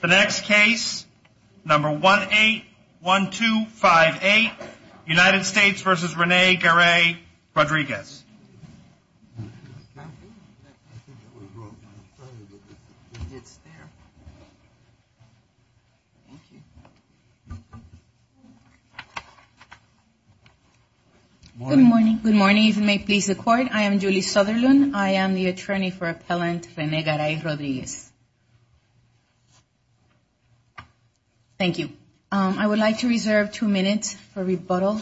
The next case, number 181258, United States v. René Garay-Rodriguez. Good morning. Good morning. If you may please the court, I am Julie Sutherland. I am the attorney for appellant René Garay-Rodriguez. Thank you. I would like to reserve two minutes for rebuttal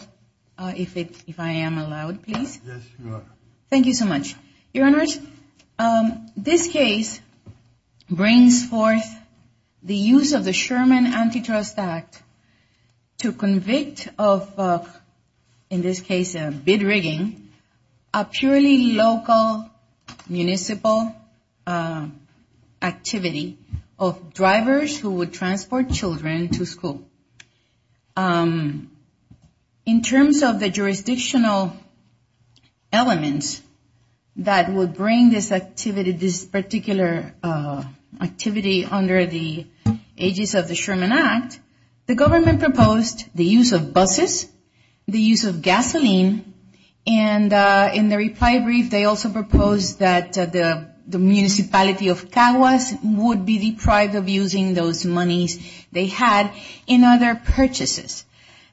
if I am allowed, please. Yes, you are. Thank you so much. Your Honors, this case brings forth the use of the Sherman Antitrust Act to convict of, in this case, a bid rigging, a purely local municipal activity of drivers who would transport children to school. In terms of the jurisdictional elements that would bring this activity, this particular activity under the aegis of the Sherman Act, the government proposed the use of buses, the use of gasoline, and in the reply brief, they also proposed that the municipality of Caguas would be deprived of using those monies they had in other purchases.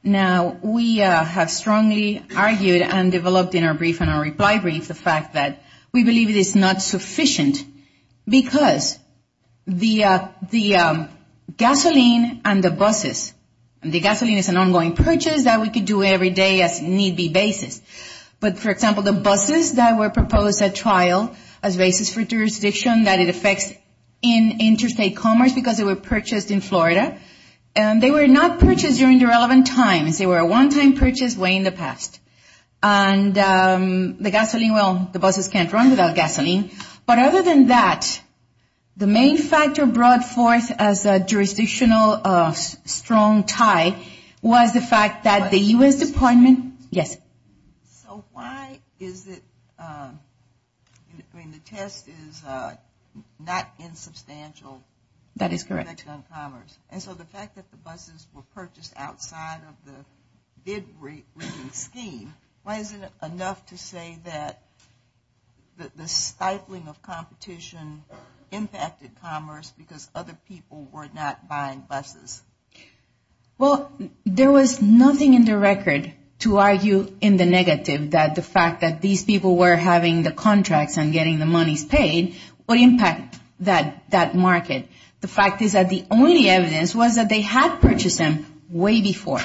Now, we have strongly argued and developed in our brief and our reply brief the fact that we believe it is not sufficient because the gasoline and the buses, the gasoline is an ongoing purchase that we could do every day as need be basis. But, for example, the buses that were proposed at trial as basis for jurisdiction that it affects interstate commerce because they were purchased in Florida, they were not purchased during the relevant times. They were a one-time purchase way in the past. And the gasoline, well, the buses can't run without gasoline. But other than that, the main factor brought forth as a jurisdictional strong tie was the fact that the U.S. Department, yes? So why is it, I mean, the test is not in substantial effect on commerce. That is correct. And so the fact that the buses were purchased outside of the bid rating scheme, why is it enough to say that the stifling of competition impacted commerce because other people were not buying buses? Well, there was nothing in the record to argue in the negative that the fact that these people were having the contracts and getting the monies paid would impact that market. The fact is that the only evidence was that they had purchased them way before,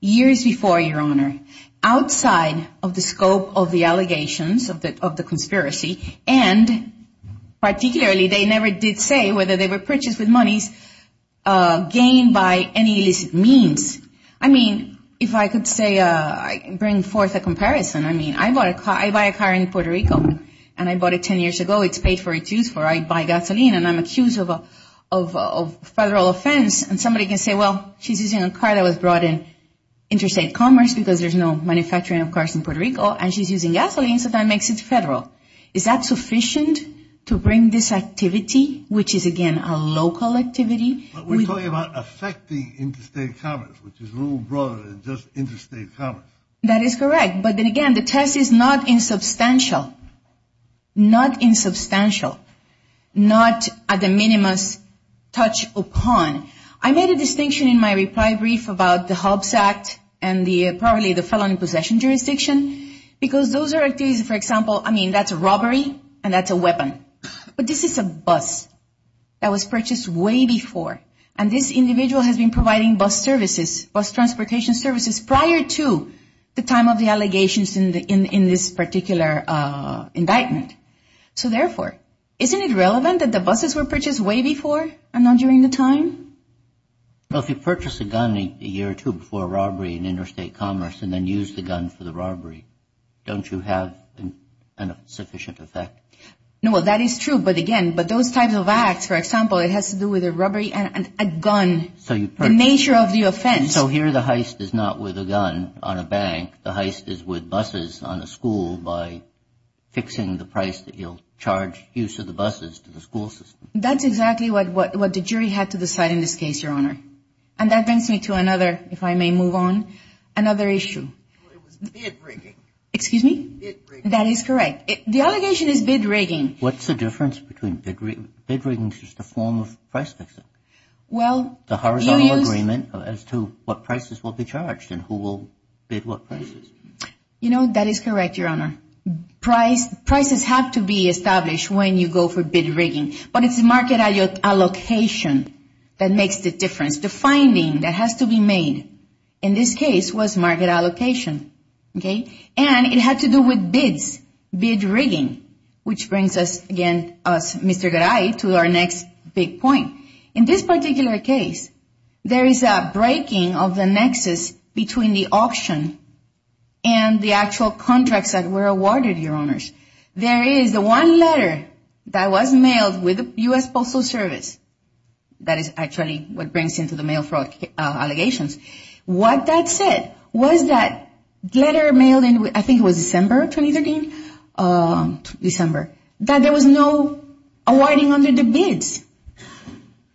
years before, Your Honor, outside of the scope of the allegations of the conspiracy. And particularly, they never did say whether they were purchased with monies gained by any illicit means. I mean, if I could say, bring forth a comparison. I mean, I buy a car in Puerto Rico, and I bought it 10 years ago. It's paid for its use. I buy gasoline, and I'm accused of federal offense. And somebody can say, well, she's using a car that was brought in interstate commerce because there's no manufacturing of cars in Puerto Rico, and she's using gasoline, so that makes it federal. Is that sufficient to bring this activity, which is, again, a local activity? But we're talking about affecting interstate commerce, which is a little broader than just interstate commerce. That is correct. But then again, the test is not insubstantial, not insubstantial, not a de minimis touch upon. I made a distinction in my reply brief about the Hobbs Act and probably the felon in possession jurisdiction, because those are activities, for example, I mean, that's robbery, and that's a weapon. But this is a bus that was purchased way before, and this individual has been providing bus services, prior to the time of the allegations in this particular indictment. So therefore, isn't it relevant that the buses were purchased way before and not during the time? Well, if you purchase a gun a year or two before a robbery in interstate commerce and then use the gun for the robbery, don't you have a sufficient effect? No, well, that is true. But again, those types of acts, for example, it has to do with a robbery and a gun, the nature of the offense. And so here the heist is not with a gun on a bank. The heist is with buses on a school by fixing the price that you'll charge use of the buses to the school system. That's exactly what the jury had to decide in this case, Your Honor. And that brings me to another, if I may move on, another issue. It was bid rigging. Excuse me? Bid rigging. That is correct. The allegation is bid rigging. What's the difference between bid rigging? Bid rigging is just a form of price fixing. The horizontal agreement as to what prices will be charged and who will bid what prices. You know, that is correct, Your Honor. Prices have to be established when you go for bid rigging. But it's market allocation that makes the difference. The finding that has to be made in this case was market allocation. And it had to do with bids, bid rigging, which brings us again, Mr. Garay, to our next big point. In this particular case, there is a breaking of the nexus between the auction and the actual contracts that were awarded, Your Honors. There is the one letter that was mailed with the U.S. Postal Service. That is actually what brings into the mail fraud allegations. What that said was that letter mailed in, I think it was December of 2013, December, that there was no awarding under the bids.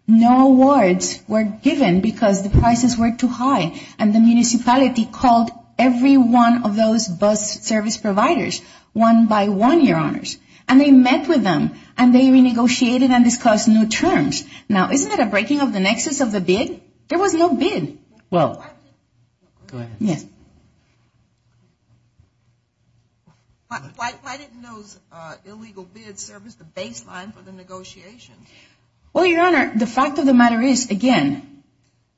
No awards were given because the prices were too high. And the municipality called every one of those bus service providers, one by one, Your Honors. And they met with them, and they renegotiated and discussed new terms. Now, isn't that a breaking of the nexus of the bid? There was no bid. Well, go ahead. Yes. Why didn't those illegal bids serve as the baseline for the negotiations? Well, Your Honor, the fact of the matter is, again,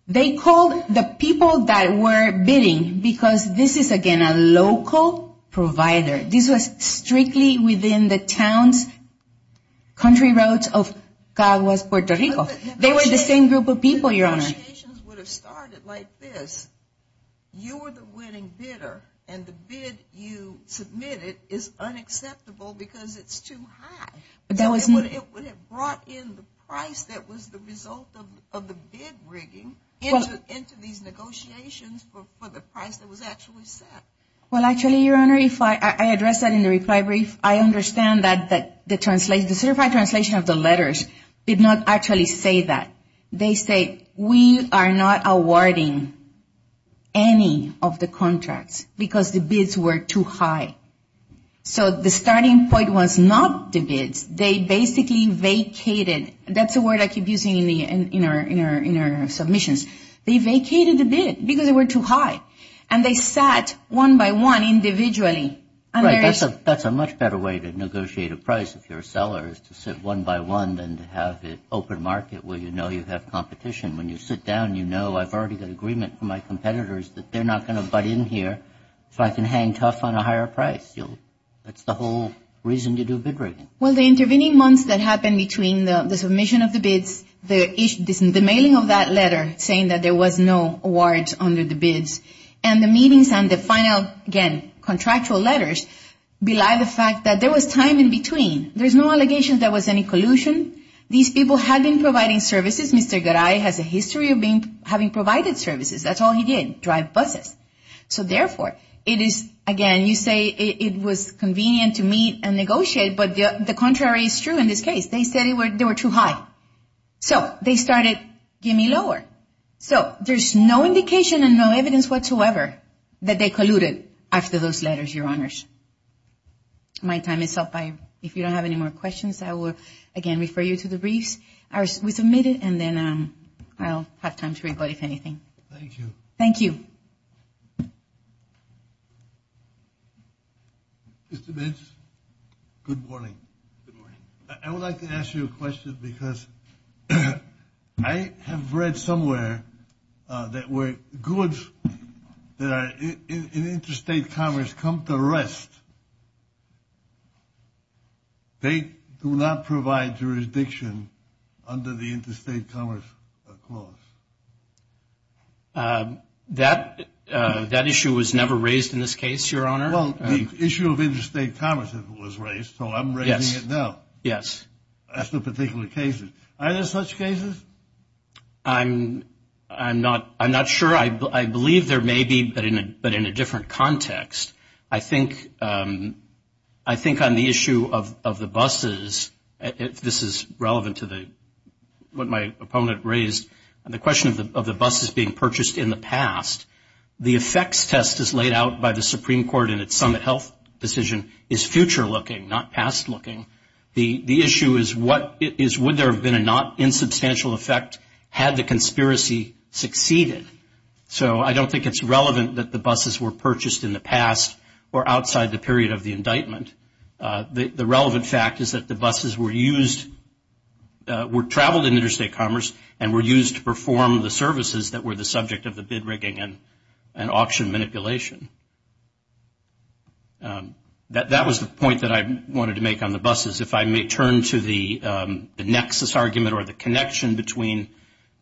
they called the people that were bidding because this is, again, a local provider. This was strictly within the town's country roads of Caguas, Puerto Rico. They were the same group of people, Your Honor. If the negotiations would have started like this, you were the winning bidder, and the bid you submitted is unacceptable because it's too high. It would have brought in the price that was the result of the bid rigging into these negotiations for the price that was actually set. Well, actually, Your Honor, if I address that in the reply brief, I understand that the certified translation of the letters did not actually say that. They say, we are not awarding any of the contracts because the bids were too high. So the starting point was not the bids. They basically vacated. That's a word I keep using in our submissions. They vacated the bid because they were too high, and they sat one by one individually. That's a much better way to negotiate a price if you're a seller is to sit one by one and have an open market where you know you have competition. When you sit down, you know, I've already got agreement from my competitors that they're not going to butt in here so I can hang tough on a higher price. That's the whole reason you do bid rigging. Well, the intervening months that happened between the submission of the bids, the mailing of that letter saying that there was no awards under the bids, and the meetings and the final, again, contractual letters, belie the fact that there was time in between. There's no allegations there was any collusion. These people had been providing services. Mr. Garay has a history of having provided services. That's all he did, drive buses. So, therefore, it is, again, you say it was convenient to meet and negotiate, but the contrary is true in this case. They said they were too high. So they started, give me lower. So there's no indication and no evidence whatsoever that they colluded after those letters, Your Honors. My time is up. If you don't have any more questions, I will, again, refer you to the briefs. We submitted, and then I'll have time to rebut if anything. Thank you. Thank you. Mr. Benz, good morning. Good morning. I would like to ask you a question because I have read somewhere that goods in interstate commerce come to rest. They do not provide jurisdiction under the interstate commerce clause. That issue was never raised in this case, Your Honor. Well, the issue of interstate commerce was raised, so I'm raising it now. Yes. As to particular cases. Are there such cases? I'm not sure. I believe there may be, but in a different context. I think on the issue of the buses, if this is relevant to what my opponent raised, the question of the buses being purchased in the past, the effects test as laid out by the Supreme Court in its summit health decision is future looking, not past looking. The issue is would there have been a not insubstantial effect had the conspiracy succeeded? So I don't think it's relevant that the buses were purchased in the past or outside the period of the indictment. The relevant fact is that the buses were used, were traveled in interstate commerce and were used to perform the services that were the subject of the bid rigging and auction manipulation. That was the point that I wanted to make on the buses. If I may turn to the nexus argument or the connection between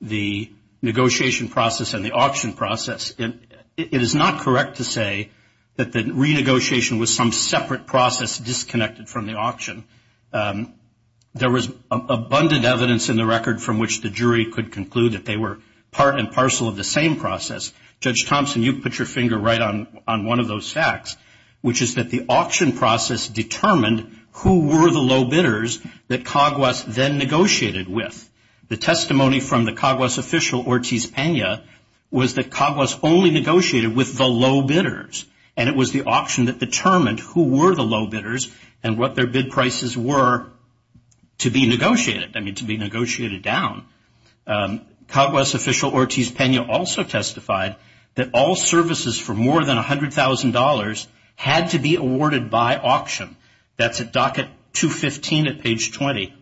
the negotiation process and the auction process, it is not correct to say that the renegotiation was some separate process disconnected from the auction. There was abundant evidence in the record from which the jury could conclude that they were part and parcel of the same process. Judge Thompson, you put your finger right on one of those facts, which is that the auction process determined who were the low bidders that CAGWAS then negotiated with. The testimony from the CAGWAS official, Ortiz Pena, was that CAGWAS only negotiated with the low bidders, and it was the auction that determined who were the low bidders and what their bid prices were to be negotiated, I mean to be negotiated down. CAGWAS official Ortiz Pena also testified that all services for more than $100,000 had to be awarded by auction. That's at docket 215 at page 20.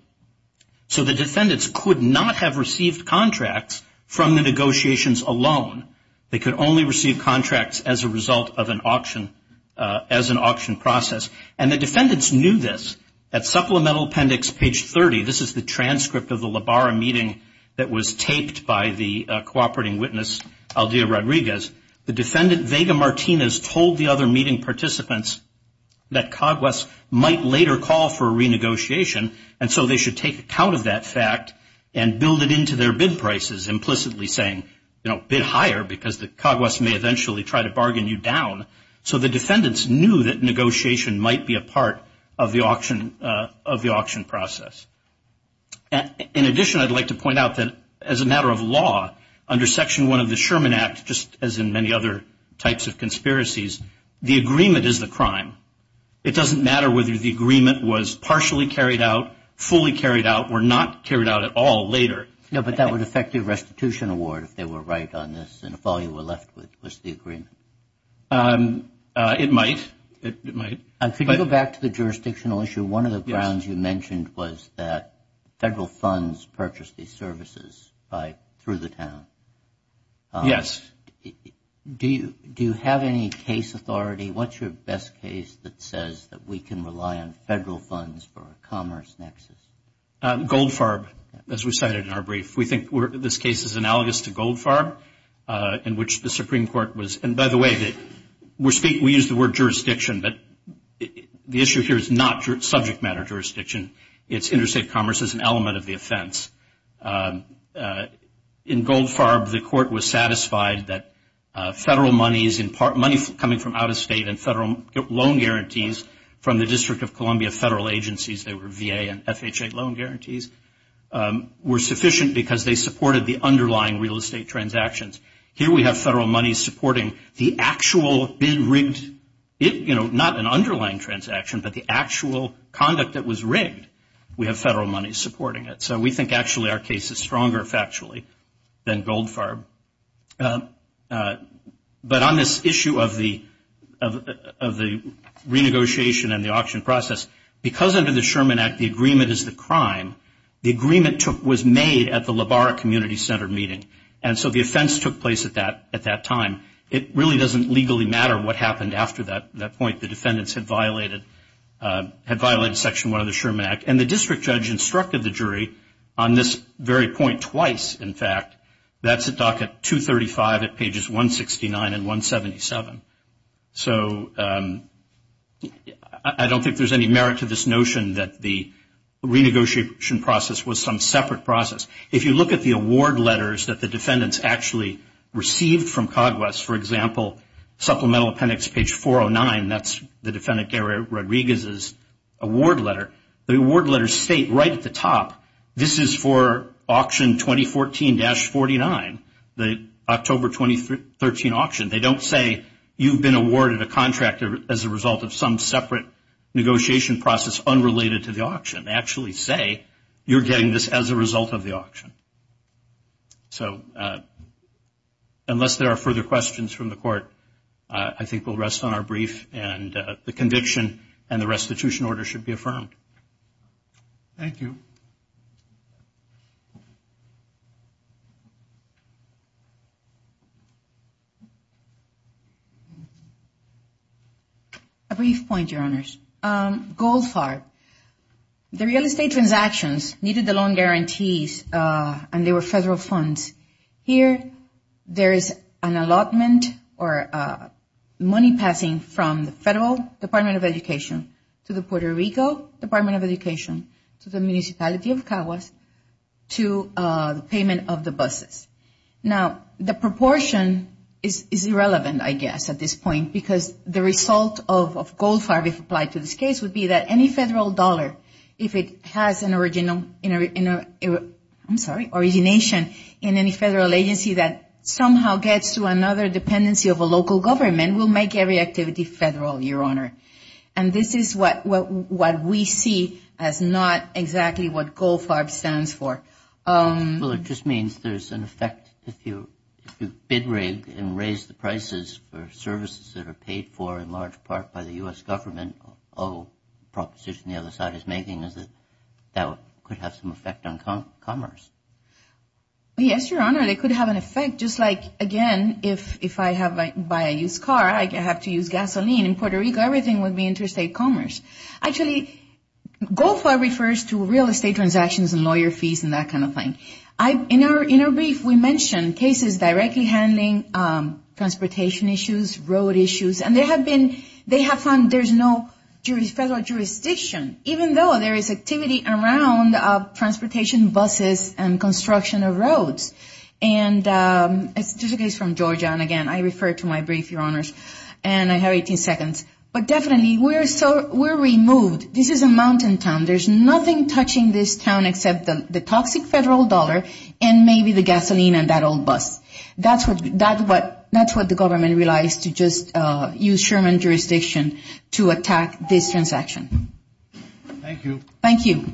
So the defendants could not have received contracts from the negotiations alone. They could only receive contracts as a result of an auction, as an auction process. And the defendants knew this. At supplemental appendix page 30, this is the transcript of the La Barra meeting that was taped by the cooperating witness, Aldea Rodriguez, the defendant, Vega Martinez, told the other meeting participants that CAGWAS might later call for a renegotiation, and so they should take account of that fact and build it into their bid prices, implicitly saying, you know, bid higher because the CAGWAS may eventually try to bargain you down. So the defendants knew that negotiation might be a part of the auction process. In addition, I'd like to point out that as a matter of law, under Section 1 of the Sherman Act, just as in many other types of conspiracies, the agreement is the crime. It doesn't matter whether the agreement was partially carried out, fully carried out, or not carried out at all later. No, but that would affect your restitution award if they were right on this and if all you were left with was the agreement. It might. It might. Could you go back to the jurisdictional issue? One of the grounds you mentioned was that federal funds purchased these services through the town. Yes. Do you have any case authority? What's your best case that says that we can rely on federal funds for a commerce nexus? Goldfarb, as we cited in our brief. We think this case is analogous to Goldfarb, in which the Supreme Court was, and by the way, we use the word jurisdiction, but the issue here is not subject matter jurisdiction. It's interstate commerce as an element of the offense. In Goldfarb, the court was satisfied that federal monies, money coming from out of state and federal loan guarantees from the District of Columbia federal agencies, they were VA and FHA loan guarantees, were sufficient because they supported the underlying real estate transactions. Here we have federal monies supporting the actual bid rigged, not an underlying transaction, but the actual conduct that was rigged. We have federal monies supporting it. So we think actually our case is stronger factually than Goldfarb. But on this issue of the renegotiation and the auction process, because under the Sherman Act the agreement is the crime, the agreement was made at the LaBarra Community Center meeting, and so the offense took place at that time. It really doesn't legally matter what happened after that point. The defendants had violated Section 1 of the Sherman Act, and the district judge instructed the jury on this very point twice, in fact. That's at docket 235 at pages 169 and 177. So I don't think there's any merit to this notion that the renegotiation process was some separate process. If you look at the award letters that the defendants actually received from COGWES, for example, supplemental appendix page 409, that's the defendant Gary Rodriguez's award letter. The award letters state right at the top, this is for auction 2014-49, the October 2013 auction. They don't say you've been awarded a contract as a result of some separate negotiation process unrelated to the auction. They actually say you're getting this as a result of the auction. So unless there are further questions from the court, I think we'll rest on our brief, and the conviction and the restitution order should be affirmed. Thank you. A brief point, Your Honors. Goldfarb. The real estate transactions needed the loan guarantees, and they were federal funds. Here, there is an allotment or money passing from the Federal Department of Education to the Puerto Rico Department of Education to the municipality of COGWES to the payment of the buses. Now, the proportion is irrelevant, I guess, at this point, because the result of Goldfarb, if applied to this case, would be that any federal dollar, if it has an original, I'm sorry, origination in any federal agency that somehow gets to another dependency of a local government, will make every activity federal, Your Honor. And this is what we see as not exactly what Goldfarb stands for. Well, it just means there's an effect if you bid rig and raise the prices for services that are paid for, in large part, by the U.S. government. All proposition the other side is making is that that could have some effect on commerce. Yes, Your Honor. It could have an effect, just like, again, if I buy a used car, I have to use gasoline. In Puerto Rico, everything would be interstate commerce. Actually, Goldfarb refers to real estate transactions and lawyer fees and that kind of thing. In our brief, we mentioned cases directly handling transportation issues, road issues, and they have found there's no federal jurisdiction, even though there is activity around transportation, buses, and construction of roads. And it's just a case from Georgia, and, again, I refer to my brief, Your Honors, and I have 18 seconds. But definitely, we're removed. This is a mountain town. There's nothing touching this town except the toxic federal dollar and maybe the gasoline and that old bus. That's what the government relies to just use Sherman jurisdiction to attack this transaction. Thank you. Thank you.